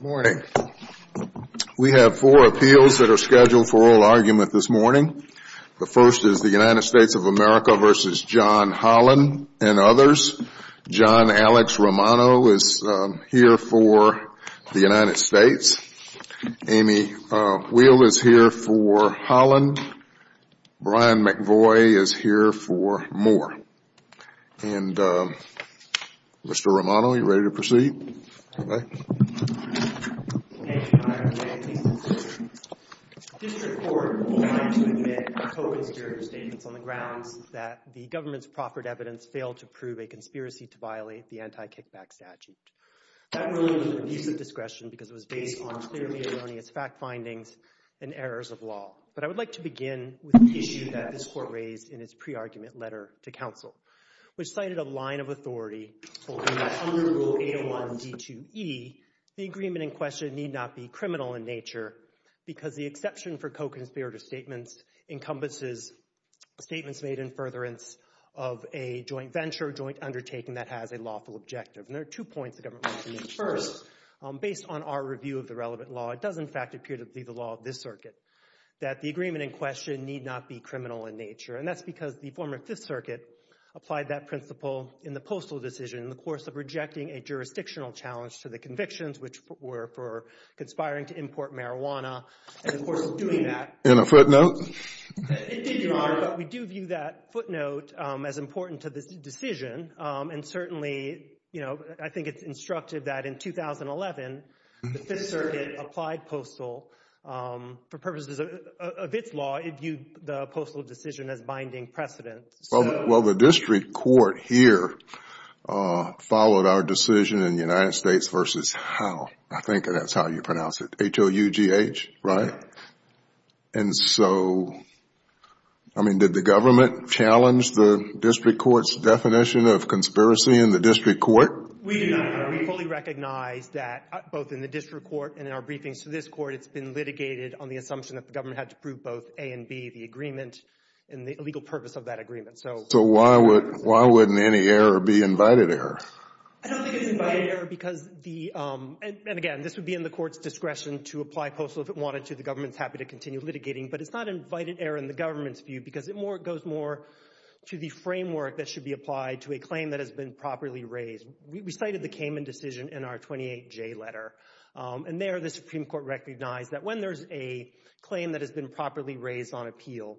Morning. We have four appeals that are scheduled for oral argument this morning. The first is the United States of America v. John Holland and others. John Alex Romano is here for the more. And Mr. Romano, are you ready to proceed? Mr. Romano District Court will now to admit a co-conspirator's statements on the grounds that the government's proffered evidence failed to prove a conspiracy to violate the anti-kickback statute. That really was a piece of discretion because it was based on clearly erroneous fact findings and errors of law. But I would like to begin with the issue that this court raised in its first hearing. In its pre-argument letter to counsel, which cited a line of authority, the agreement in question need not be criminal in nature because the exception for co-conspirator statements encompasses statements made in furtherance of a joint venture, joint undertaking that has a lawful objective. And there are two points the government wants to make first. Based on our review of the relevant law, it does in fact appear to be the law of this circuit that the agreement in question need not be criminal in nature. And that's because the former Fifth Circuit applied that principle in the postal decision in the course of rejecting a jurisdictional challenge to the convictions, which were for conspiring to import marijuana. In a footnote? It did, Your Honor, but we do view that footnote as important to this decision. And certainly, you know, I think it's instructive that in 2011, the Fifth Circuit applied postal. For purposes of its law, it viewed the postal decision as binding precedent. Well, the district court here followed our decision in the United States versus how, I think that's how you pronounce it, H-O-U-G-H, right? And so, I mean, did the government challenge the district court's definition of conspiracy in the district court? We do not, Your Honor. We fully recognize that both in the district court and in our briefings to this court, it's been litigated on the assumption that the government had to prove both A and B, the agreement and the legal purpose of that agreement. So why wouldn't any error be invited error? I don't think it's invited error because the – and again, this would be in the court's discretion to apply postal if it wanted to. The government's happy to continue litigating. But it's not invited error in the government's view because it goes more to the framework that should be applied to a claim that has been properly raised. We cited the Kamen decision in our 28J letter, and there the Supreme Court recognized that when there's a claim that has been properly raised on appeal,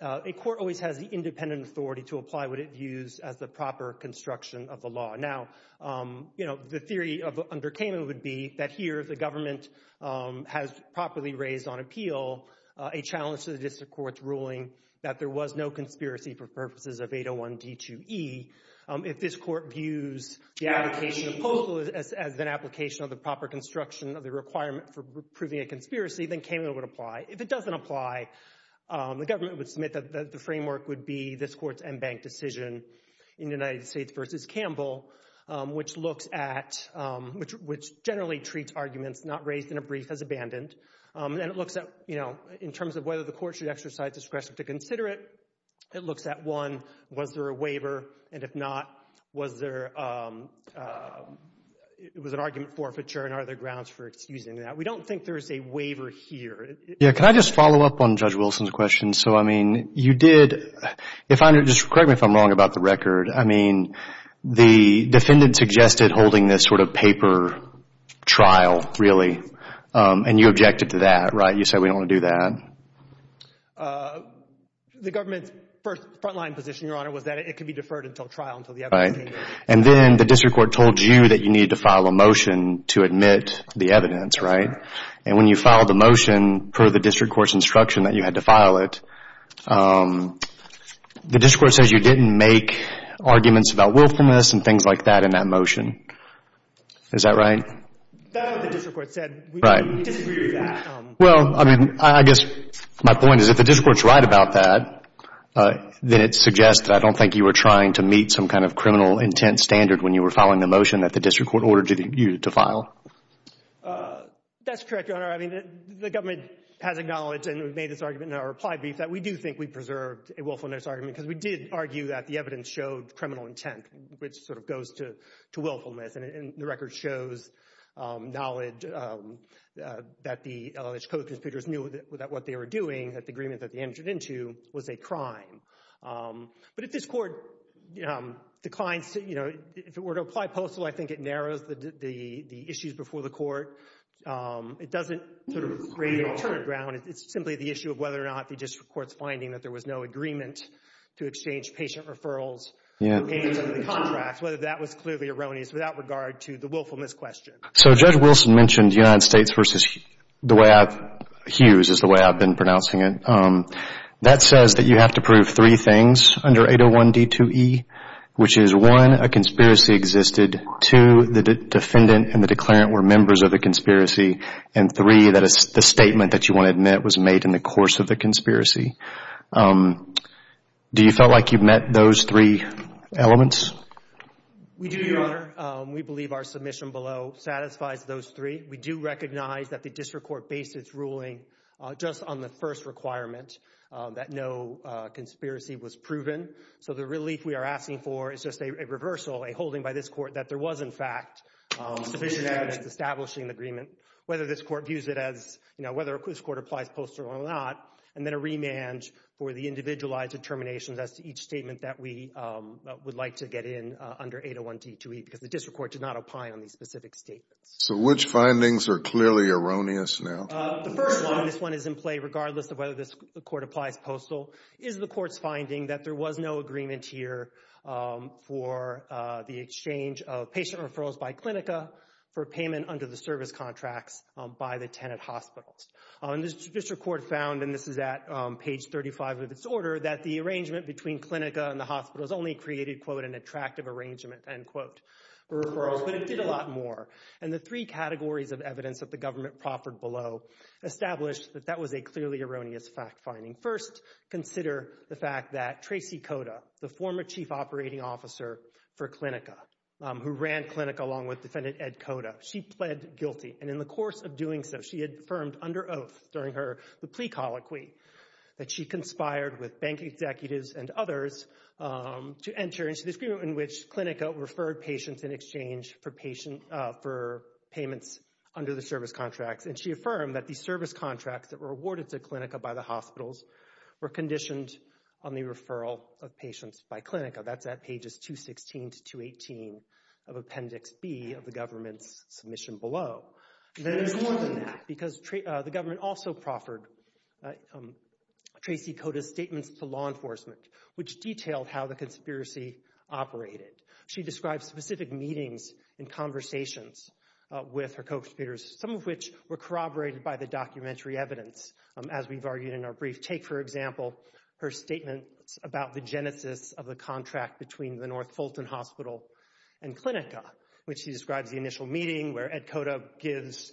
a court always has the independent authority to apply what it views as the proper construction of the law. Now, the theory under Kamen would be that here if the government has properly raised on appeal a challenge to the district court's ruling that there was no conspiracy for purposes of 801D2E, if this court views the application of postal as an application of the proper construction of the requirement for proving a conspiracy, then Kamen would apply. If it doesn't apply, the government would submit that the framework would be this court's en banc decision in the United States v. Campbell, which looks at – which generally treats arguments not raised in a brief as abandoned. And it looks at – in terms of whether the court should exercise discretion to consider it, it looks at, one, was there a waiver? And if not, was there – was it argument forfeiture and are there grounds for excusing that? We don't think there's a waiver here. Yeah, can I just follow up on Judge Wilson's question? So, I mean, you did – if I – just correct me if I'm wrong about the record. I mean, the defendant suggested holding this sort of paper trial, really, and you objected to that, right? You said we don't want to do that. The government's first frontline position, Your Honor, was that it could be deferred until trial, until the evidence came in. And then the district court told you that you needed to file a motion to admit the evidence, right? And when you filed the motion, per the district court's instruction that you had to file it, the district court says you didn't make arguments about willfulness and things like that in that motion. Is that right? That's what the district court said. Right. We disagree with that. Well, I mean, I guess my point is if the district court's right about that, then it suggests that I don't think you were trying to meet some kind of criminal intent standard when you were filing the motion that the district court ordered you to file. That's correct, Your Honor. I mean, the government has acknowledged, and we've made this argument in our reply brief, that we do think we preserved a willfulness argument because we did argue that the evidence showed criminal intent, which sort of goes to willfulness. And the record shows knowledge that the LH code prosecutors knew that what they were doing, that the agreement that they entered into, was a crime. But if this court declines, you know, if it were to apply postal, I think it narrows the issues before the court. It doesn't sort of create a turnaround. It's simply the issue of whether or not the district court's finding that there was no agreement to exchange patient referrals and payments under the contract, whether that was clearly erroneous without regard to the willfulness question. So Judge Wilson mentioned United States versus the way I've been pronouncing it. That says that you have to prove three things under 801D2E, which is, one, a conspiracy existed, two, the defendant and the declarant were members of the conspiracy, and three, that the statement that you want to admit was made in the course of the conspiracy. Do you feel like you've met those three elements? We do, Your Honor. We believe our submission below satisfies those three. We do recognize that the district court based its ruling just on the first requirement, that no conspiracy was proven. So the relief we are asking for is just a reversal, a holding by this court that there was, in fact, sufficient evidence establishing the agreement, whether this court views it as, you know, whether this court applies postal or not, and then a remand for the individualized determinations as to each statement that we would like to get in under 801D2E, because the district court did not opine on these specific statements. So which findings are clearly erroneous now? The first one, and this one is in play regardless of whether this court applies postal, is the court's finding that there was no agreement here for the exchange of patient referrals by Clinica for payment under the service contracts by the tenant hospitals. The district court found, and this is at page 35 of its order, that the arrangement between Clinica and the hospitals only created, quote, an attractive arrangement, end quote, for referrals, but it did a lot more. And the three categories of evidence that the government proffered below established that that was a clearly erroneous fact finding. First, consider the fact that Tracy Cota, the former chief operating officer for Clinica, who ran Clinica along with defendant Ed Cota, she pled guilty. And in the course of doing so, she had affirmed under oath during her plea colloquy that she conspired with bank executives and others to enter into this agreement in which Clinica referred patients in exchange for payments under the service contracts. And she affirmed that the service contracts that were awarded to Clinica by the hospitals were conditioned on the referral of patients by Clinica. That's at pages 216 to 218 of Appendix B of the government's submission below. There is more than that, because the government also proffered Tracy Cota's statements to law enforcement, which detailed how the conspiracy operated. She described specific meetings and conversations with her co-conspirators, some of which were corroborated by the documentary evidence, as we've argued in our brief take. For example, her statement about the genesis of the contract between the North Fulton Hospital and Clinica, which she describes the initial meeting where Ed Cota gives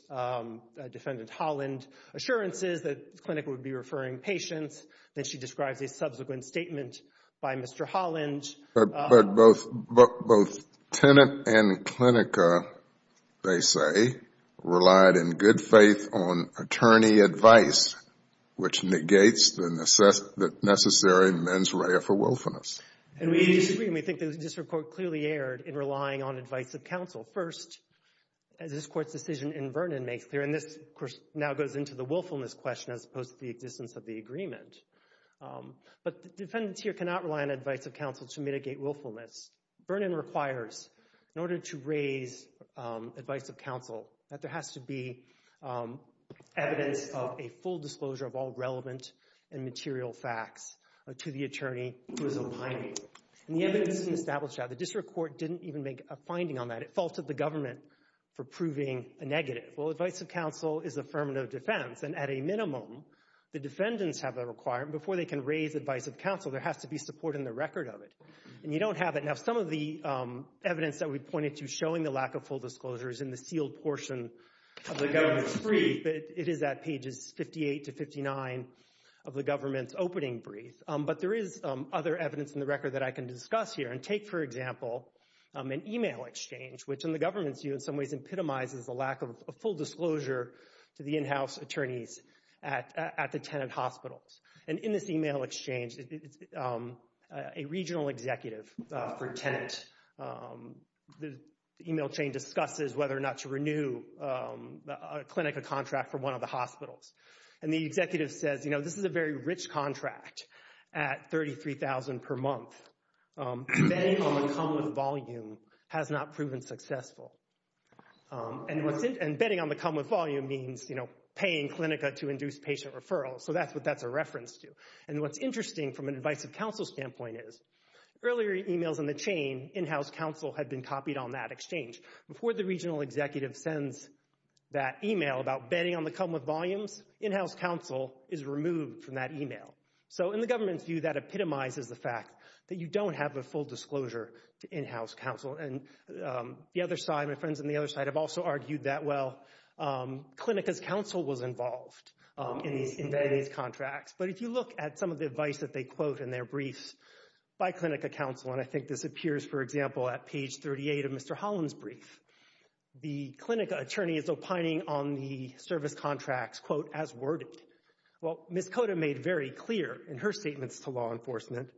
defendant Holland assurances that Clinica would be referring patients. Then she describes a subsequent statement by Mr. Holland. But both Tenet and Clinica, they say, relied in good faith on attorney advice, which negates the necessary mens rea for wilfulness. And we disagree, and we think this report clearly erred in relying on advice of counsel. First, as this Court's decision in Vernon makes clear, and this, of course, now goes into the willfulness question as opposed to the existence of the agreement, but the defendant here cannot rely on advice of counsel to mitigate willfulness. Vernon requires, in order to raise advice of counsel, that there has to be evidence of a full disclosure of all relevant and material facts to the attorney who is opining. And the evidence is established now. The district court didn't even make a finding on that. It faulted the government for proving a negative. Well, advice of counsel is affirmative defense, and at a minimum, the defendants have a requirement. Before they can raise advice of counsel, there has to be support in the record of it. And you don't have it. Now, some of the evidence that we pointed to showing the lack of full disclosure is in the sealed portion of the government's brief. It is at pages 58 to 59 of the government's opening brief. But there is other evidence in the record that I can discuss here. And take, for example, an e-mail exchange, which in the government's view, in some ways, epitomizes the lack of a full disclosure to the in-house attorneys at the tenant hospitals. And in this e-mail exchange, a regional executive for a tenant, the e-mail chain, discusses whether or not to renew a Clinica contract for one of the hospitals. And the executive says, you know, this is a very rich contract at $33,000 per month. Betting on the come with volume has not proven successful. And betting on the come with volume means, you know, paying Clinica to induce patient referrals. So that's what that's a reference to. And what's interesting from an advice of counsel standpoint is earlier e-mails in the chain, in-house counsel had been copied on that exchange. Before the regional executive sends that e-mail about betting on the come with volumes, in-house counsel is removed from that e-mail. So in the government's view, that epitomizes the fact that you don't have a full disclosure to in-house counsel. And the other side, my friends on the other side, have also argued that, well, Clinica's counsel was involved in these contracts. But if you look at some of the advice that they quote in their briefs by Clinica counsel, and I think this appears, for example, at page 38 of Mr. Holland's brief, the Clinica attorney is opining on the service contracts, quote, as worded. Well, Ms. Cota made very clear in her statements to law enforcement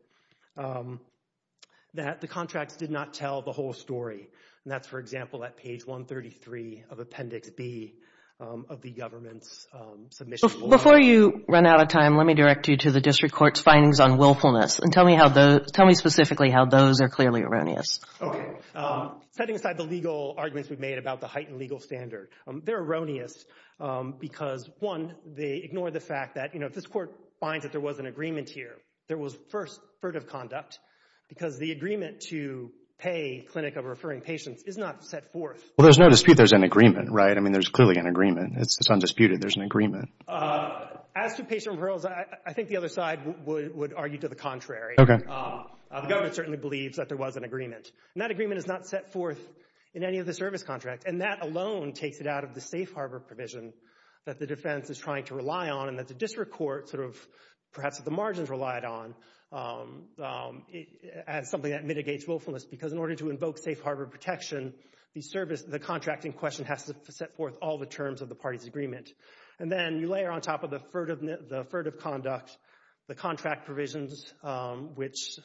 that the contracts did not tell the whole story. And that's, for example, at page 133 of Appendix B of the government's submission. Before you run out of time, let me direct you to the district court's findings on willfulness and tell me specifically how those are clearly erroneous. Setting aside the legal arguments we've made about the heightened legal standard, they're erroneous because, one, they ignore the fact that, you know, if this court finds that there was an agreement here, there was first furtive conduct, because the agreement to pay Clinica referring patients is not set forth. Well, there's no dispute there's an agreement, right? I mean, there's clearly an agreement. It's undisputed there's an agreement. As to patient referrals, I think the other side would argue to the contrary. Okay. The government certainly believes that there was an agreement, and that agreement is not set forth in any of the service contracts, and that alone takes it out of the safe harbor provision that the defense is trying to rely on and that the district court sort of perhaps at the margins relied on as something that mitigates willfulness, because in order to invoke safe harbor protection, the contracting question has to set forth all the terms of the party's agreement. And then you layer on top of the furtive conduct the contract provisions, which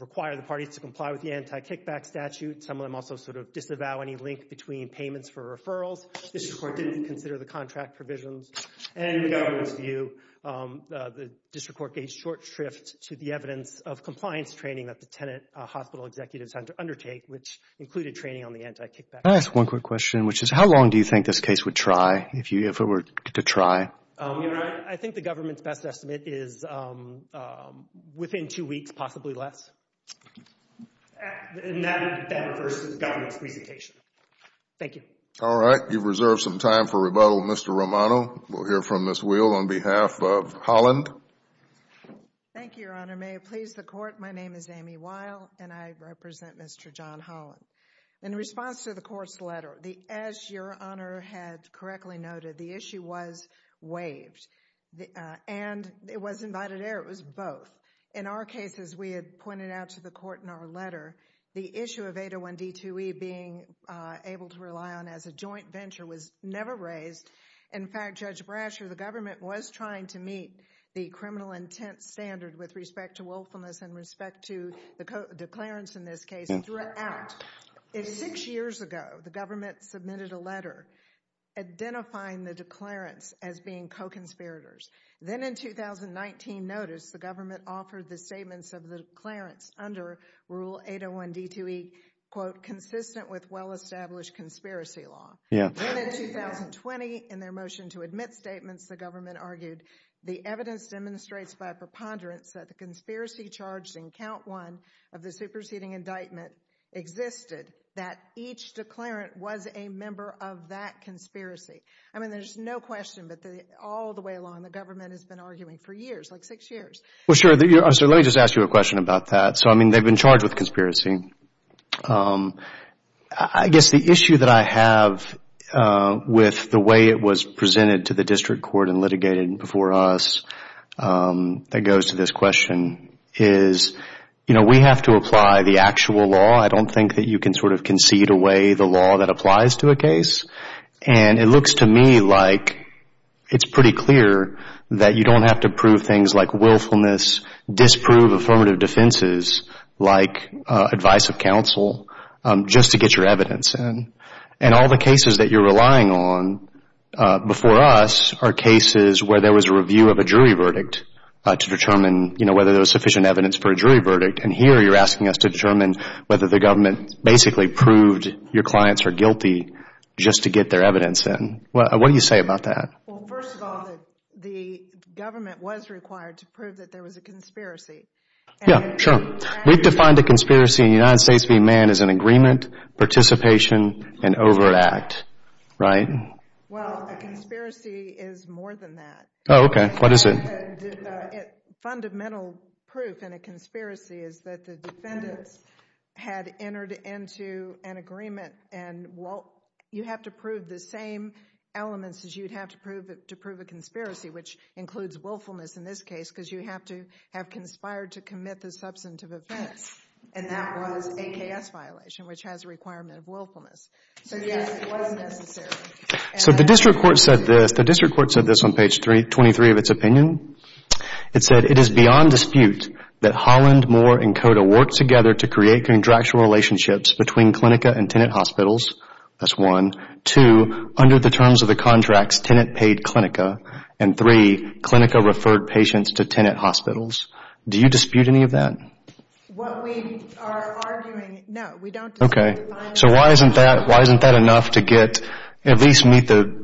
require the parties to comply with the anti-kickback statute. Some of them also sort of disavow any link between payments for referrals. The district court didn't consider the contract provisions. And in the government's view, the district court gave short shrift to the evidence of compliance training that the tenant hospital executives Can I ask one quick question, which is how long do you think this case would try, if it were to try? You're right. I think the government's best estimate is within two weeks, possibly less. And that refers to the government's presentation. Thank you. All right. You've reserved some time for rebuttal. Mr. Romano, we'll hear from Ms. Wheel on behalf of Holland. Thank you, Your Honor. May it please the Court. My name is Amy Weil, and I represent Mr. John Holland. In response to the Court's letter, as Your Honor had correctly noted, the issue was waived. And it wasn't about an error. It was both. In our case, as we had pointed out to the Court in our letter, the issue of 801 D-2E being able to rely on as a joint venture was never raised. In fact, Judge Brasher, the government was trying to meet the criminal intent standard with respect to willfulness and respect to the declarants in this case, and threw it out. Six years ago, the government submitted a letter identifying the declarants as being co-conspirators. Then in 2019 notice, the government offered the statements of the declarants under Rule 801 D-2E, quote, consistent with well-established conspiracy law. Then in 2020, in their motion to admit statements, the government argued, the evidence demonstrates by preponderance that the conspiracy charged in Count 1 of the superseding indictment existed, that each declarant was a member of that conspiracy. I mean, there's no question, but all the way along the government has been arguing for years, like six years. Well, sure. Let me just ask you a question about that. I guess the issue that I have with the way it was presented to the district court and litigated before us that goes to this question is, you know, we have to apply the actual law. I don't think that you can sort of concede away the law that applies to a case, and it looks to me like it's pretty clear that you don't have to prove things like willfulness, disprove affirmative defenses like advice of counsel just to get your evidence. And all the cases that you're relying on before us are cases where there was a review of a jury verdict to determine, you know, whether there was sufficient evidence for a jury verdict. And here you're asking us to determine whether the government basically proved your clients are guilty just to get their evidence in. What do you say about that? Well, first of all, the government was required to prove that there was a conspiracy. Yeah, sure. We've defined a conspiracy in the United States v. Mann as an agreement, participation, and overact, right? Well, a conspiracy is more than that. Oh, okay. What is it? Fundamental proof in a conspiracy is that the defendants had entered into an agreement and you have to prove the same elements as you'd have to prove to prove a conspiracy, which includes willfulness in this case because you have to have conspired to commit the substantive offense, and that was a KS violation, which has a requirement of willfulness. So, yes, it was necessary. So the district court said this. The district court said this on page 23 of its opinion. It said, It is beyond dispute that Holland, Moore, and Cota worked together to create contractual relationships between Clinica and tenant hospitals. That's one. Two, under the terms of the contracts, tenant paid Clinica. And three, Clinica referred patients to tenant hospitals. Do you dispute any of that? What we are arguing, no, we don't. Okay. So why isn't that enough to at least meet the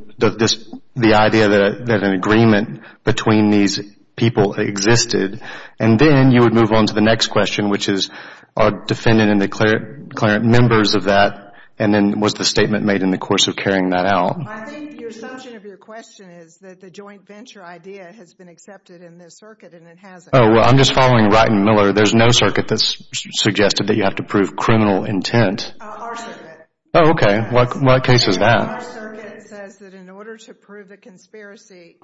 idea that an agreement between these people existed? And then you would move on to the next question, which is, are defendant and the clerk members of that? And then what's the statement made in the course of carrying that out? I think your assumption of your question is that the joint venture idea has been accepted in this circuit and it hasn't. Oh, well, I'm just following Wright and Miller. There's no circuit that's suggested that you have to prove criminal intent. Our circuit. Oh, okay. What case is that? Our circuit says that in order to prove a conspiracy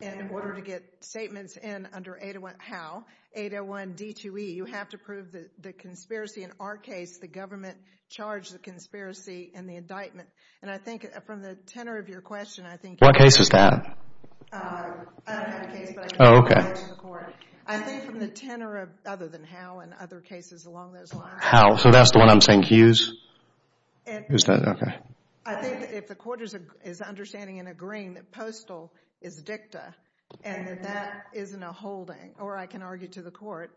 and in order to get statements in under 801-how, 801-D2E, you have to prove the conspiracy. In our case, the government charged the conspiracy and the indictment. And I think from the tenor of your question, I think you're right. What case is that? I don't have a case, but I can go back to the court. I think from the tenor of other than how and other cases along those lines. How? So that's the one I'm saying Hughes? Okay. I think if the court is understanding and agreeing that postal is dicta and that that isn't a holding, or I can argue to the court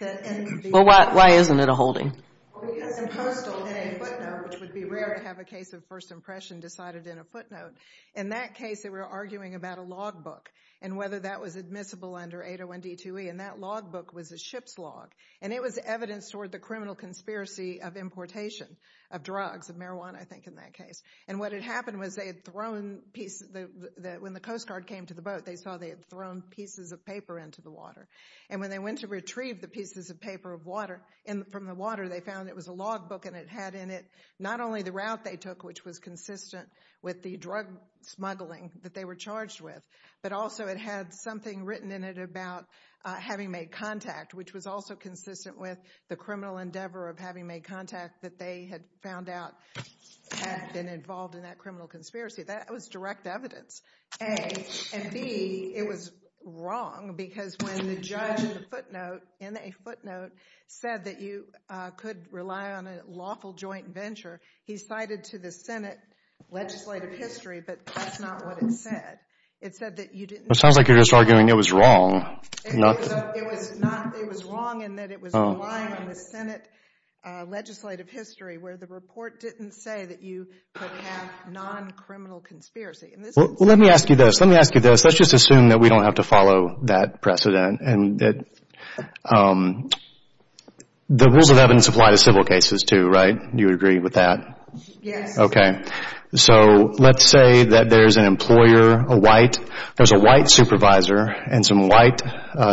that it could be. Well, why isn't it a holding? Well, because in postal, in a footnote, which would be rare to have a case of first impression decided in a footnote, in that case they were arguing about a logbook and whether that was admissible under 801-D2E. And that logbook was a ship's log. And it was evidence toward the criminal conspiracy of importation of drugs, of marijuana, I think, in that case. And what had happened was they had thrown, when the Coast Guard came to the boat, they saw they had thrown pieces of paper into the water. And when they went to retrieve the pieces of paper from the water, they found it was a logbook and it had in it not only the route they took, which was consistent with the drug smuggling that they were charged with, but also it had something written in it about having made contact, which was also consistent with the criminal endeavor of having made contact that they had found out had been involved in that criminal conspiracy. That was direct evidence, A. And, B, it was wrong because when the judge in the footnote, in a footnote, said that you could rely on a lawful joint venture, he cited to the Senate legislative history, but that's not what it said. It said that you didn't... It sounds like you're just arguing it was wrong. It was wrong in that it was relying on the Senate legislative history where the report didn't say that you could have non-criminal conspiracy. Well, let me ask you this. Let me ask you this. Let's just assume that we don't have to follow that precedent. And the rules of evidence apply to civil cases, too, right? Do you agree with that? Yes. Okay. So let's say that there's an employer, a white, there's a white supervisor and some white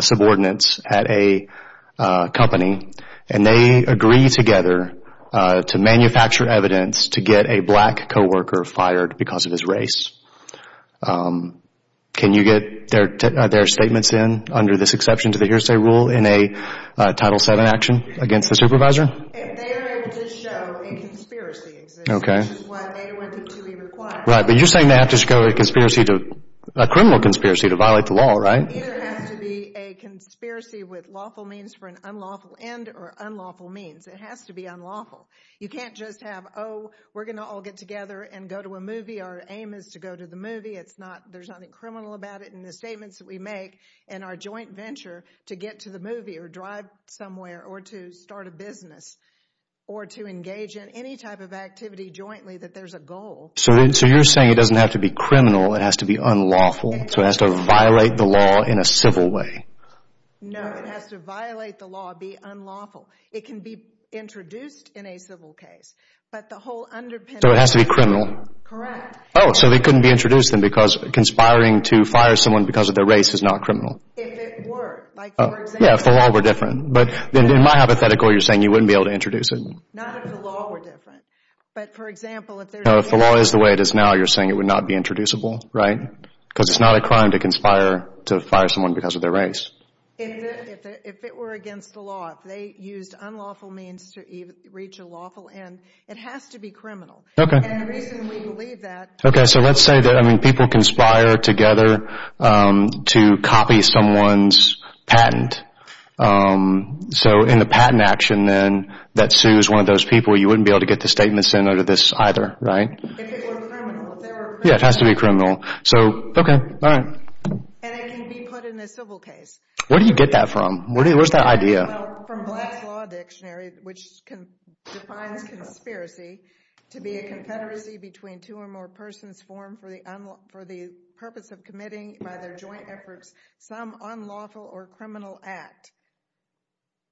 subordinates at a company, and they agree together to manufacture evidence to get a black coworker fired because of his race. Can you get their statements in under this exception to the hearsay rule in a Title VII action against the supervisor? They are able to show a conspiracy exists. Okay. Which is why it may or may not be required. Right. But you're saying they have to show a criminal conspiracy to violate the law, right? It either has to be a conspiracy with lawful means for an unlawful end or unlawful means. It has to be unlawful. You can't just have, oh, we're going to all get together and go to a movie. Our aim is to go to the movie. There's nothing criminal about it in the statements that we make and our joint venture to get to the movie or drive somewhere or to start a business or to engage in any type of activity jointly that there's a goal. So you're saying it doesn't have to be criminal, it has to be unlawful, so it has to violate the law in a civil way. No, it has to violate the law, be unlawful. It can be introduced in a civil case, but the whole underpinning of it. So it has to be criminal. Correct. Oh, so they couldn't be introduced then because conspiring to fire someone because of their race is not criminal. If it were, like for example. Yeah, if the law were different. But in my hypothetical, you're saying you wouldn't be able to introduce it. Not if the law were different. But for example, if there's... No, if the law is the way it is now, you're saying it would not be introducible, right? Because it's not a crime to conspire to fire someone because of their race. If it were against the law, if they used unlawful means to reach a lawful end, it has to be criminal. Okay. And the reason we believe that... So in the patent action then that sues one of those people, you wouldn't be able to get the statements in under this either, right? If it were criminal. Yeah, it has to be criminal. So, okay. All right. And it can be put in a civil case. Where do you get that from? Where's that idea? Well, from Black's Law Dictionary, which defines conspiracy to be a confederacy between two or more persons formed for the purpose of committing, by their joint efforts, some unlawful or criminal act.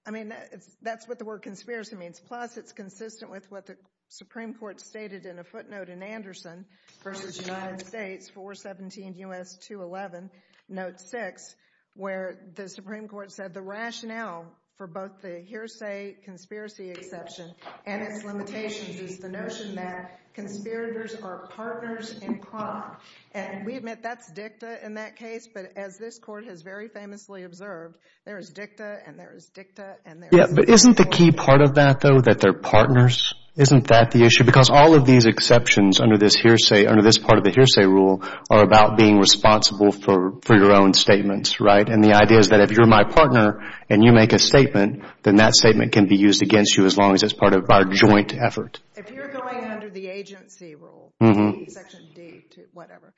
I mean, that's what the word conspiracy means. Plus, it's consistent with what the Supreme Court stated in a footnote in Anderson v. United States 417 U.S. 211, note 6, where the Supreme Court said the rationale for both the hearsay conspiracy exception and its limitations is the notion that conspirators are partners in crime. And we admit that's dicta in that case, but as this Court has very famously observed, there is dicta and there is dicta and there is dicta. Yeah, but isn't the key part of that, though, that they're partners? Isn't that the issue? Because all of these exceptions under this hearsay, under this part of the hearsay rule, are about being responsible for your own statements, right? And the idea is that if you're my partner and you make a statement, then that statement can be used against you as long as it's part of our joint effort. If you're going under the agency rule, Section D, whatever,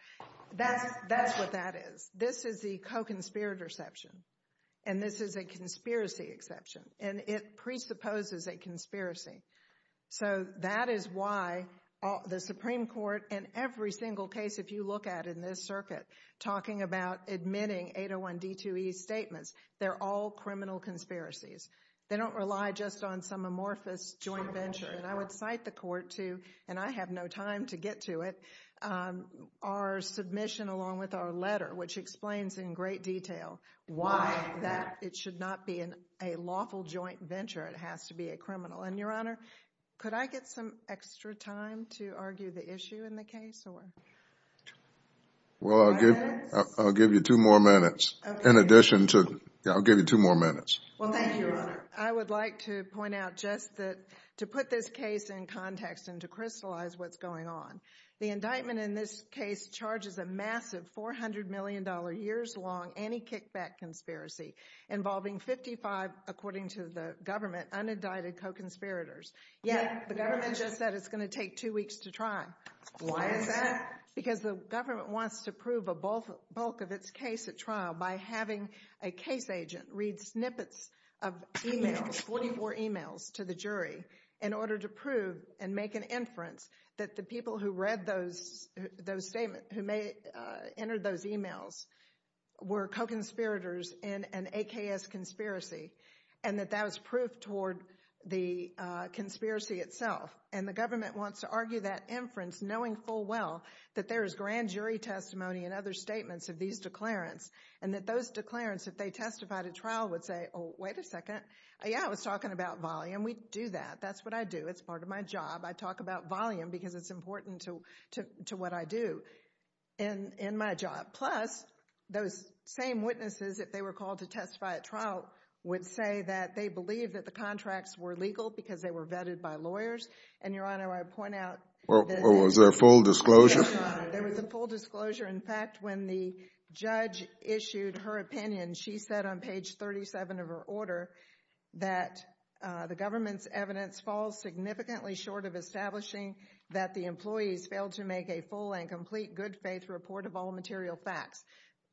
that's what that is. This is the co-conspirator section, and this is a conspiracy exception, and it presupposes a conspiracy. So that is why the Supreme Court in every single case, if you look at it in this circuit, talking about admitting 801 D2E statements, they're all criminal conspiracies. They don't rely just on some amorphous joint venture. And I would cite the court to, and I have no time to get to it, our submission along with our letter, which explains in great detail why it should not be a lawful joint venture. It has to be a criminal. And, Your Honor, could I get some extra time to argue the issue in the case? Well, I'll give you two more minutes. In addition to, I'll give you two more minutes. Well, thank you, Your Honor. I would like to point out just that to put this case in context and to crystallize what's going on, the indictment in this case charges a massive $400 million years-long anti-kickback conspiracy involving 55, according to the government, unindicted co-conspirators. Yet the government just said it's going to take two weeks to try. Why is that? Because the government wants to prove a bulk of its case at trial by having a case agent read snippets of emails, 44 emails, to the jury in order to prove and make an inference that the people who read those statements, who entered those emails, were co-conspirators in an AKS conspiracy and that that was proof toward the conspiracy itself. And the government wants to argue that inference knowing full well that there is grand jury testimony and other statements of these declarants and that those declarants, if they testified at trial, would say, oh, wait a second, yeah, I was talking about volume. We do that. That's what I do. It's part of my job. I talk about volume because it's important to what I do in my job. Plus, those same witnesses, if they were called to testify at trial, because they were vetted by lawyers. And, Your Honor, I point out that there was a full disclosure. There was a full disclosure. In fact, when the judge issued her opinion, she said on page 37 of her order that the government's evidence falls significantly short of establishing that the employees failed to make a full and complete good faith report of all material facts.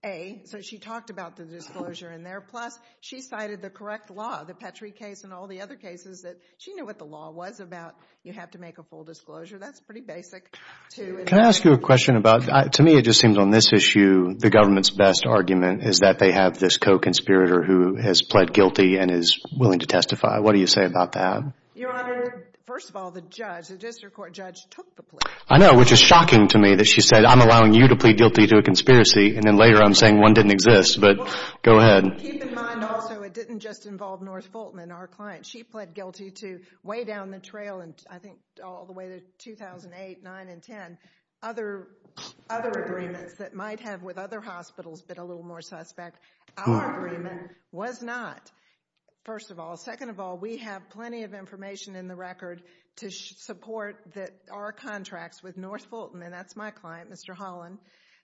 A, so she talked about the disclosure in there. Plus, she cited the correct law, the Petrie case and all the other cases that she knew what the law was about. You have to make a full disclosure. That's pretty basic too. Can I ask you a question about, to me it just seems on this issue, the government's best argument is that they have this co-conspirator who has pled guilty and is willing to testify. What do you say about that? Your Honor, first of all, the judge, the district court judge took the plea. I know, which is shocking to me that she said, I'm allowing you to plead guilty to a conspiracy and then later I'm saying one didn't exist. But go ahead. Keep in mind also it didn't just involve North Fulton and our client. She pled guilty to way down the trail and I think all the way to 2008, 9 and 10, other agreements that might have with other hospitals been a little more suspect. Our agreement was not, first of all. Second of all, we have plenty of information in the record to support that our contracts with North Fulton, and that's my client, Mr. Holland,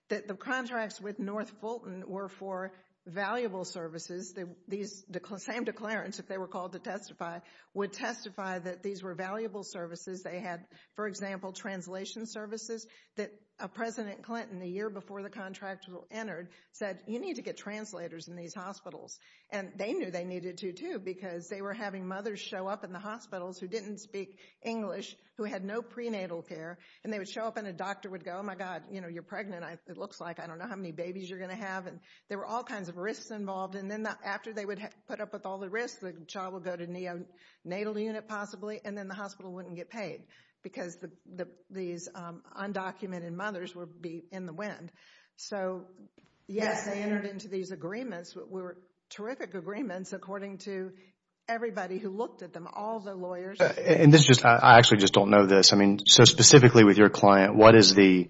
that the contracts with North Fulton were for valuable services. These same declarants, if they were called to testify, would testify that these were valuable services. They had, for example, translation services that President Clinton, the year before the contract was entered, said you need to get translators in these hospitals. And they knew they needed to too because they were having mothers show up in the hospitals who didn't speak English, who had no prenatal care, and they would show up and a doctor would go, oh, my God, you're pregnant. It looks like I don't know how many babies you're going to have. And there were all kinds of risks involved. And then after they would put up with all the risks, the child would go to neonatal unit, possibly, and then the hospital wouldn't get paid because these undocumented mothers would be in the wind. So, yes, they entered into these agreements that were terrific agreements, according to everybody who looked at them, all the lawyers. And this is just, I actually just don't know this. I mean, so specifically with your client, what is the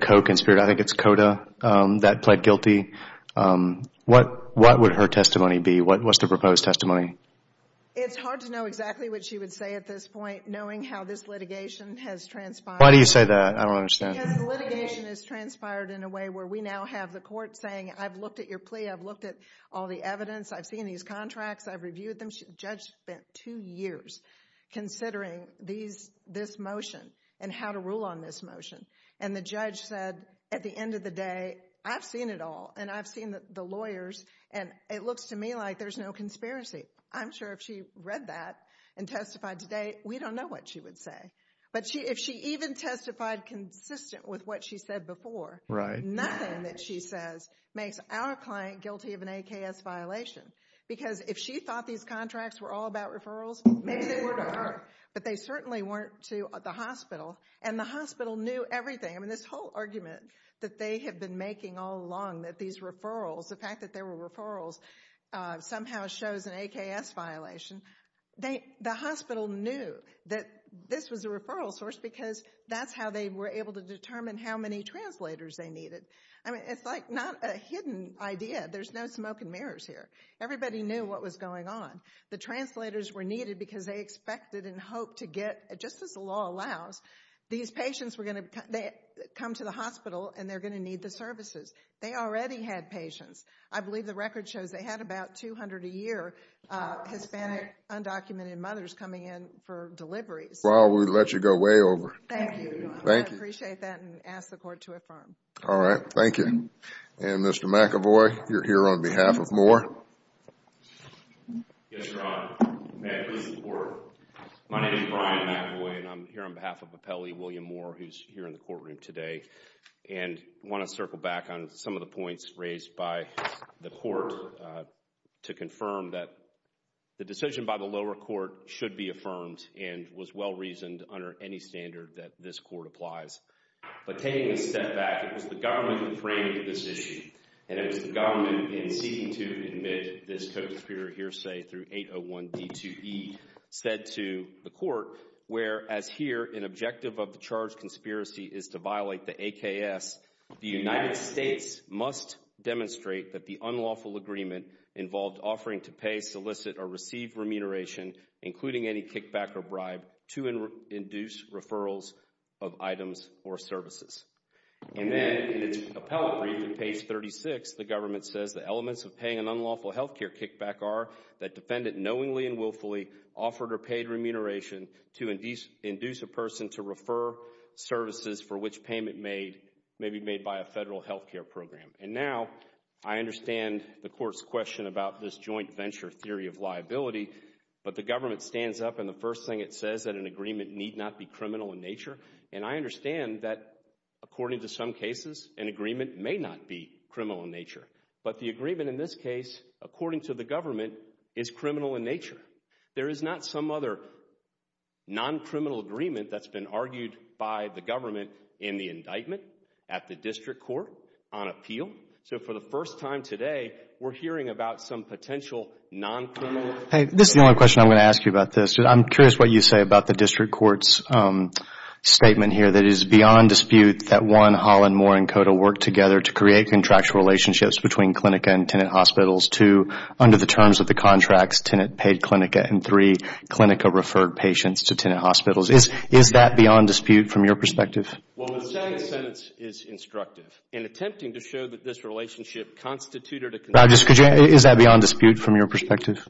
co-conspirator? I think it's COTA that pled guilty. What would her testimony be? What's the proposed testimony? It's hard to know exactly what she would say at this point, knowing how this litigation has transpired. Why do you say that? I don't understand. Because the litigation has transpired in a way where we now have the court saying, I've looked at your plea. I've looked at all the evidence. I've seen these contracts. I've reviewed them. The judge spent two years considering this motion and how to rule on this motion. And the judge said, at the end of the day, I've seen it all. And I've seen the lawyers. And it looks to me like there's no conspiracy. I'm sure if she read that and testified today, we don't know what she would say. But if she even testified consistent with what she said before, nothing that she says makes our client guilty of an AKS violation. Because if she thought these contracts were all about referrals, maybe they were to her, but they certainly weren't to the hospital. And the hospital knew everything. I mean, this whole argument that they have been making all along, that these referrals, the fact that there were referrals, somehow shows an AKS violation. The hospital knew that this was a referral source because that's how they were able to determine how many translators they needed. I mean, it's like not a hidden idea. There's no smoke and mirrors here. Everybody knew what was going on. The translators were needed because they expected and hoped to get, just as the law allows, these patients were going to come to the hospital and they're going to need the services. They already had patients. I believe the record shows they had about 200 a year Hispanic undocumented mothers coming in for deliveries. Well, we let you go way over. Thank you. I appreciate that and ask the court to affirm. All right. Thank you. And Mr. McAvoy, you're here on behalf of Moore. Yes, Your Honor. May I please report? My name is Brian McAvoy and I'm here on behalf of Appellee William Moore who's here in the courtroom today. And I want to circle back on some of the points raised by the court to confirm that the decision by the lower court should be affirmed and was well-reasoned under any standard that this court applies. But taking a step back, it was the government that framed this issue. And it was the government in seeking to admit this code of superior hearsay through 801D2E said to the court, whereas here an objective of the charge conspiracy is to violate the AKS, the United States must demonstrate that the unlawful agreement involved offering to pay, solicit, or receive remuneration, including any kickback or bribe, to induce referrals of items or services. And then in its appellate brief in page 36, the government says the elements of paying an unlawful health care kickback are that defendant knowingly and willfully offered or paid remuneration to induce a person to refer services for which payment may be made by a federal health care program. And now I understand the court's question about this joint venture theory of liability, but the government stands up and the first thing it says that an agreement need not be criminal in nature. And I understand that according to some cases, an agreement may not be criminal in nature. But the agreement in this case, according to the government, is criminal in nature. There is not some other non-criminal agreement that's been argued by the government in the indictment at the district court on appeal. So for the first time today, we're hearing about some potential non-criminal agreement. This is the only question I'm going to ask you about this. I'm curious what you say about the district court's statement here that is beyond dispute that one, Holland, Moore, and Cota worked together to create contractual relationships between Clinica and Tenet Hospitals. Two, under the terms of the contracts, Tenet paid Clinica. And three, Clinica referred patients to Tenet Hospitals. Is that beyond dispute from your perspective? Well, the second sentence is instructive. In attempting to show that this relationship constituted a Is that beyond dispute from your perspective?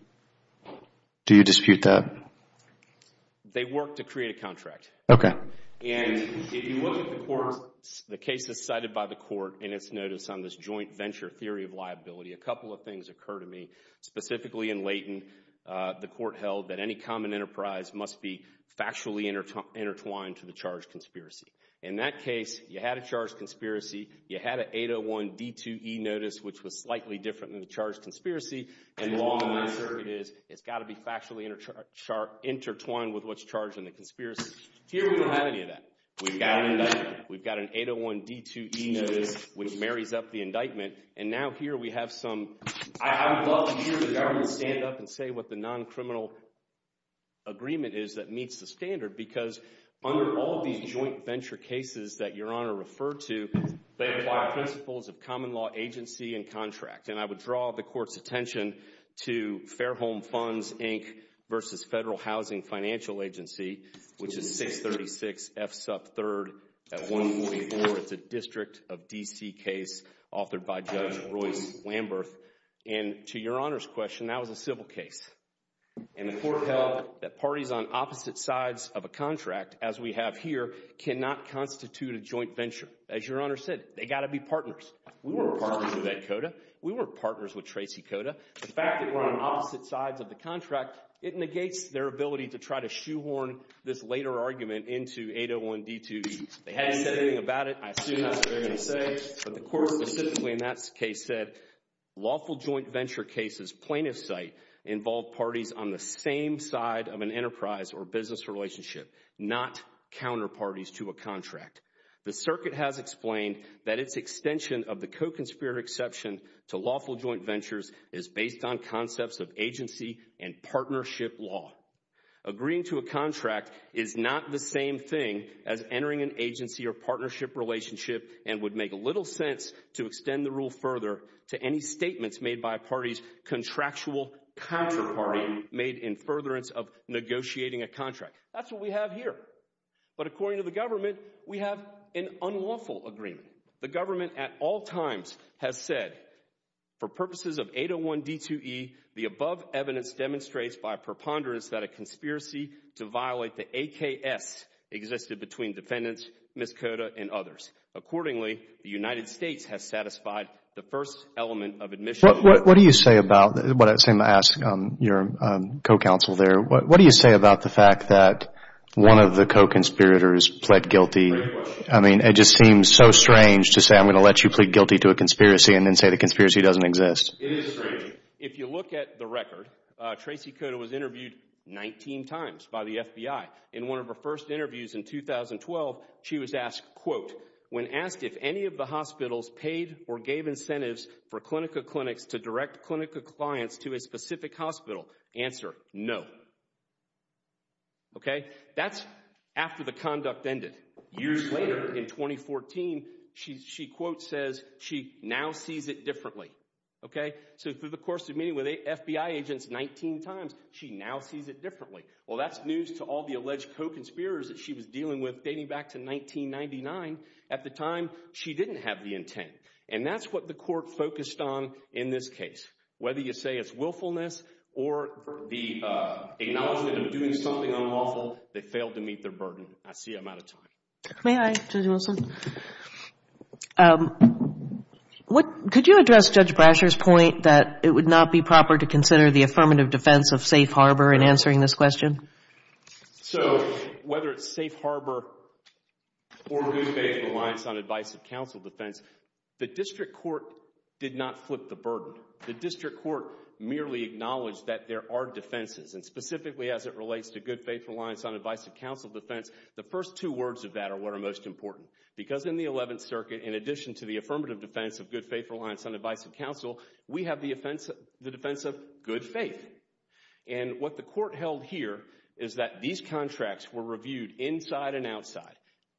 Do you dispute that? They worked to create a contract. Okay. And if you look at the case that's cited by the court in its notice on this joint venture theory of liability, a couple of things occur to me. Specifically in Layton, the court held that any common enterprise must be factually intertwined to the charged conspiracy. In that case, you had a charged conspiracy. You had an 801 D2E notice, which was slightly different than the charged conspiracy. And the long answer is it's got to be factually intertwined with what's charged in the conspiracy. Here we don't have any of that. We've got an indictment. We've got an 801 D2E notice, which marries up the indictment. And now here we have some—I would love to hear the government stand up and say what the non-criminal agreement is that meets the standard because under all of these joint venture cases that Your Honor referred to, they apply principles of common law agency and contract. And I would draw the court's attention to Fair Home Funds, Inc., versus Federal Housing Financial Agency, which is 636 F. Sup. 3rd at 144. It's a District of D.C. case authored by Judge Royce Lamberth. And to Your Honor's question, that was a civil case. And the court held that parties on opposite sides of a contract, as we have here, cannot constitute a joint venture. As Your Honor said, they've got to be partners. We weren't partners with Ed Cota. We weren't partners with Tracy Cota. The fact that we're on opposite sides of the contract, it negates their ability to try to shoehorn this later argument into 801 D2E. They haven't said anything about it. I assume that's what they're going to say. But the court specifically in that case said, lawful joint venture cases plaintiff's site involve parties on the same side of an enterprise or business relationship, not counterparties to a contract. The circuit has explained that its extension of the co-conspirator exception to lawful joint ventures is based on concepts of agency and partnership law. Agreeing to a contract is not the same thing as entering an agency or partnership relationship and would make little sense to extend the rule further to any statements made by a party's contractual counterparty made in furtherance of negotiating a contract. That's what we have here. But according to the government, we have an unlawful agreement. The government at all times has said for purposes of 801 D2E, the above evidence demonstrates by preponderance that a conspiracy to violate the AKS existed between defendants, Ms. Cota and others. Accordingly, the United States has satisfied the first element of admission. What do you say about what I was going to ask your co-counsel there? What do you say about the fact that one of the co-conspirators pled guilty? I mean, it just seems so strange to say I'm going to let you plead guilty to a conspiracy and then say the conspiracy doesn't exist. It is strange. If you look at the record, Tracy Cota was interviewed 19 times by the FBI. In one of her first interviews in 2012, she was asked, when asked if any of the hospitals paid or gave incentives for Clinica clinics to direct Clinica clients to a specific hospital, answer no. Okay? That's after the conduct ended. Years later, in 2014, she quote says, she now sees it differently. Okay? So through the course of meeting with FBI agents 19 times, she now sees it differently. Well, that's news to all the alleged co-conspirators that she was dealing with dating back to 1999. At the time, she didn't have the intent. And that's what the court focused on in this case. Whether you say it's willfulness or the acknowledgment of doing something unlawful, they failed to meet their burden. I see I'm out of time. May I, Judge Wilson? Could you address Judge Brasher's point that it would not be proper to consider the affirmative defense of safe harbor in answering this question? So whether it's safe harbor or who's based reliance on advice of counsel defense, the district court did not flip the burden. The district court merely acknowledged that there are defenses. And specifically as it relates to good faith reliance on advice of counsel defense, the first two words of that are what are most important. Because in the 11th Circuit, in addition to the affirmative defense of good faith reliance on advice of counsel, we have the defense of good faith. And what the court held here is that these contracts were reviewed inside and outside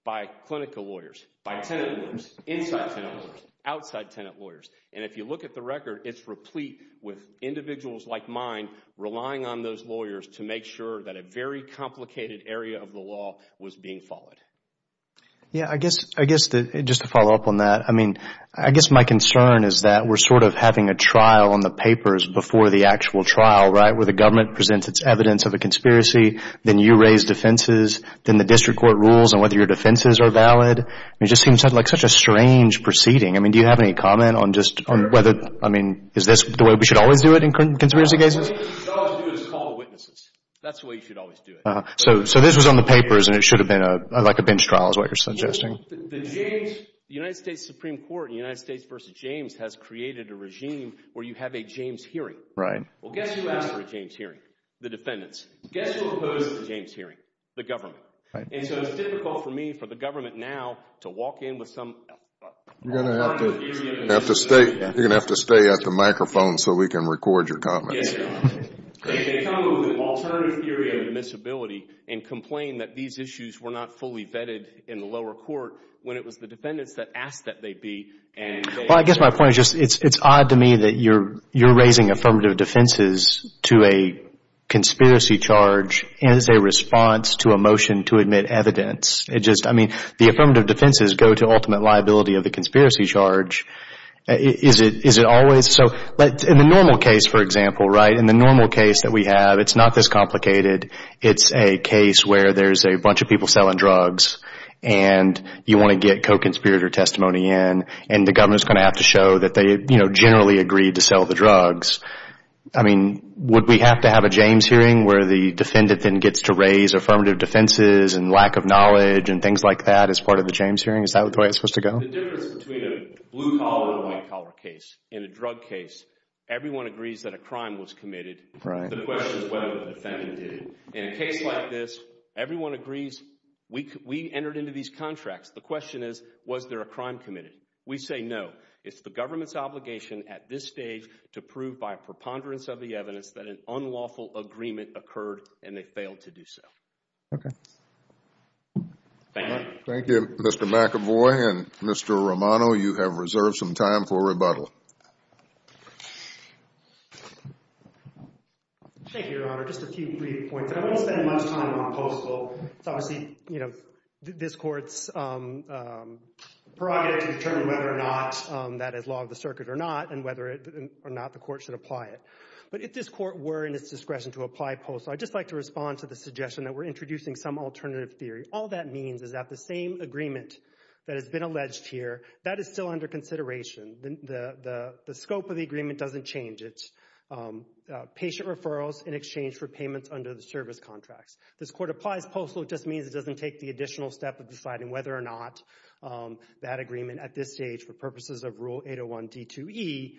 by clinical lawyers, by tenant lawyers, inside tenant lawyers, outside tenant lawyers. And if you look at the record, it's replete with individuals like mine relying on those lawyers to make sure that a very complicated area of the law was being followed. Yeah, I guess just to follow up on that, I mean, I guess my concern is that we're sort of having a trial on the papers before the actual trial, right, where the government presents its evidence of a conspiracy, then you raise defenses, then the district court rules on whether your defenses are valid. It just seems like such a strange proceeding. I mean, do you have any comment on just whether, I mean, is this the way we should always do it in conspiracy cases? No, the way you should always do it is call the witnesses. That's the way you should always do it. So this was on the papers and it should have been like a bench trial is what you're suggesting. The James, the United States Supreme Court in the United States versus James has created a regime where you have a James hearing. Right. Well, guess who asked for a James hearing? The defendants. Guess who opposed the James hearing? The government. And so it's difficult for me, for the government now, to walk in with some You're going to have to stay at the microphone so we can record your comments. Yes, Your Honor. They come with an alternative theory of admissibility and complain that these issues were not fully vetted in the lower court when it was the defendants that asked that they be. Well, I guess my point is just it's odd to me that you're raising affirmative defenses to a conspiracy charge as a response to a motion to admit evidence. I mean, the affirmative defenses go to ultimate liability of the conspiracy charge. Is it always? So in the normal case, for example, right, in the normal case that we have, it's not this complicated. It's a case where there's a bunch of people selling drugs and you want to get co-conspirator testimony in and the government is going to have to show that they generally agreed to sell the drugs. I mean, would we have to have a James hearing where the defendant then gets to raise affirmative defenses and lack of knowledge and things like that as part of the James hearing? Is that the way it's supposed to go? The difference between a blue-collar and a white-collar case, in a drug case, everyone agrees that a crime was committed. The question is whether the defendant did it. In a case like this, everyone agrees we entered into these contracts. The question is was there a crime committed? We say no. It's the government's obligation at this stage to prove by a preponderance of the evidence that an unlawful agreement occurred and they failed to do so. Okay. Thank you. Thank you, Mr. McAvoy. And Mr. Romano, you have reserved some time for rebuttal. Thank you, Your Honor. Just a few brief points. I don't want to spend much time on Postal. It's obviously this Court's prerogative to determine whether or not that is law of the circuit or not and whether or not the Court should apply it. But if this Court were in its discretion to apply Postal, I'd just like to respond to the suggestion that we're introducing some alternative theory. All that means is that the same agreement that has been alleged here, that is still under consideration. The scope of the agreement doesn't change. It's patient referrals in exchange for payments under the service contracts. This Court applies Postal. It just means it doesn't take the additional step of deciding whether or not that agreement at this stage, for purposes of Rule 801 D2E,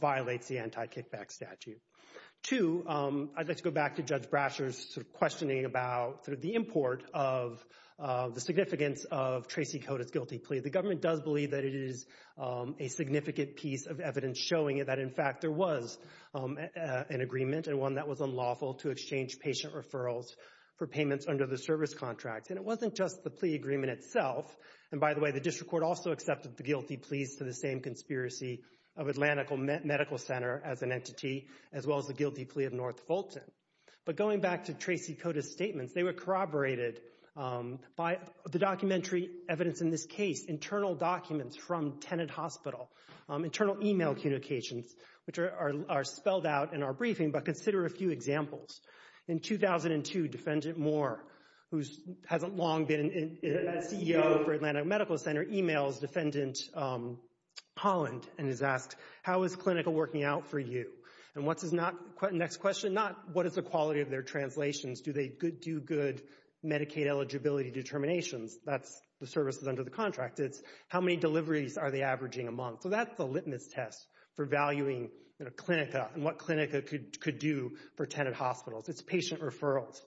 violates the anti-kickback statute. Two, I'd like to go back to Judge Brasher's questioning about the import of the significance of Tracy Cota's guilty plea. The government does believe that it is a significant piece of evidence showing that, in fact, there was an agreement and one that was unlawful to exchange patient referrals for payments under the service contract. And it wasn't just the plea agreement itself. And, by the way, the district court also accepted the guilty pleas to the same conspiracy of Atlanta Medical Center as an entity, as well as the guilty plea of North Fulton. But going back to Tracy Cota's statements, they were corroborated by the documentary evidence in this case, internal documents from Tennant Hospital, internal e-mail communications, which are spelled out in our briefing, but consider a few examples. In 2002, Defendant Moore, who hasn't long been CEO for Atlanta Medical Center, e-mails Defendant Holland and is asked, how is clinical working out for you? And what's his next question? Not what is the quality of their translations. Do they do good Medicaid eligibility determinations? That's the services under the contract. It's how many deliveries are they averaging a month? So that's the litmus test for valuing Clinica and what Clinica could do for Tennant Hospitals. It's patient referrals.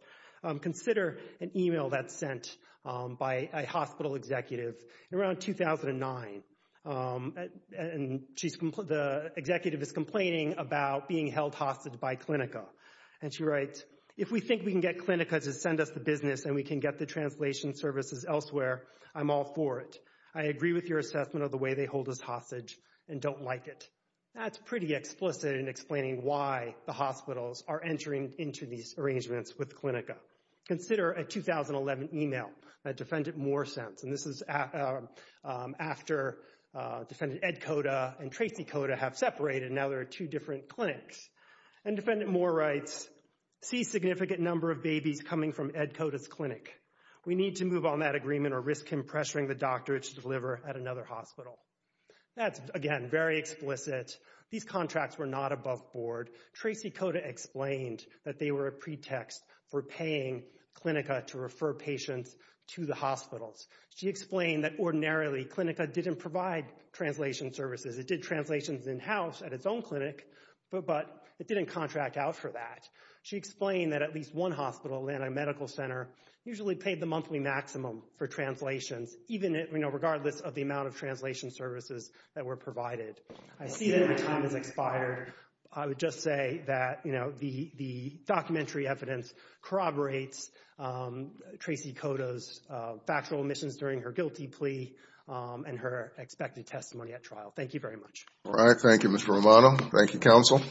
Consider an e-mail that's sent by a hospital executive around 2009, and the executive is complaining about being held hostage by Clinica. And she writes, if we think we can get Clinica to send us the business and we can get the translation services elsewhere, I'm all for it. I agree with your assessment of the way they hold us hostage and don't like it. That's pretty explicit in explaining why the hospitals are entering into these arrangements with Clinica. Consider a 2011 e-mail that Defendant Moore sent, and this is after Defendant Ed Cota and Tracy Cota have separated. Now there are two different clinics. And Defendant Moore writes, see significant number of babies coming from Ed Cota's clinic. We need to move on that agreement or risk him pressuring the doctorage to deliver at another hospital. That's, again, very explicit. These contracts were not above board. Tracy Cota explained that they were a pretext for paying Clinica to refer patients to the hospitals. She explained that ordinarily Clinica didn't provide translation services. It did translations in-house at its own clinic, but it didn't contract out for that. She explained that at least one hospital, Lantau Medical Center, usually paid the monthly maximum for translations, even regardless of the amount of translation services that were provided. I see that my time has expired. I would just say that the documentary evidence corroborates Tracy Cota's factual omissions during her guilty plea and her expected testimony at trial. Thank you very much. All right. Thank you, Mr. Romano. Thank you, counsel.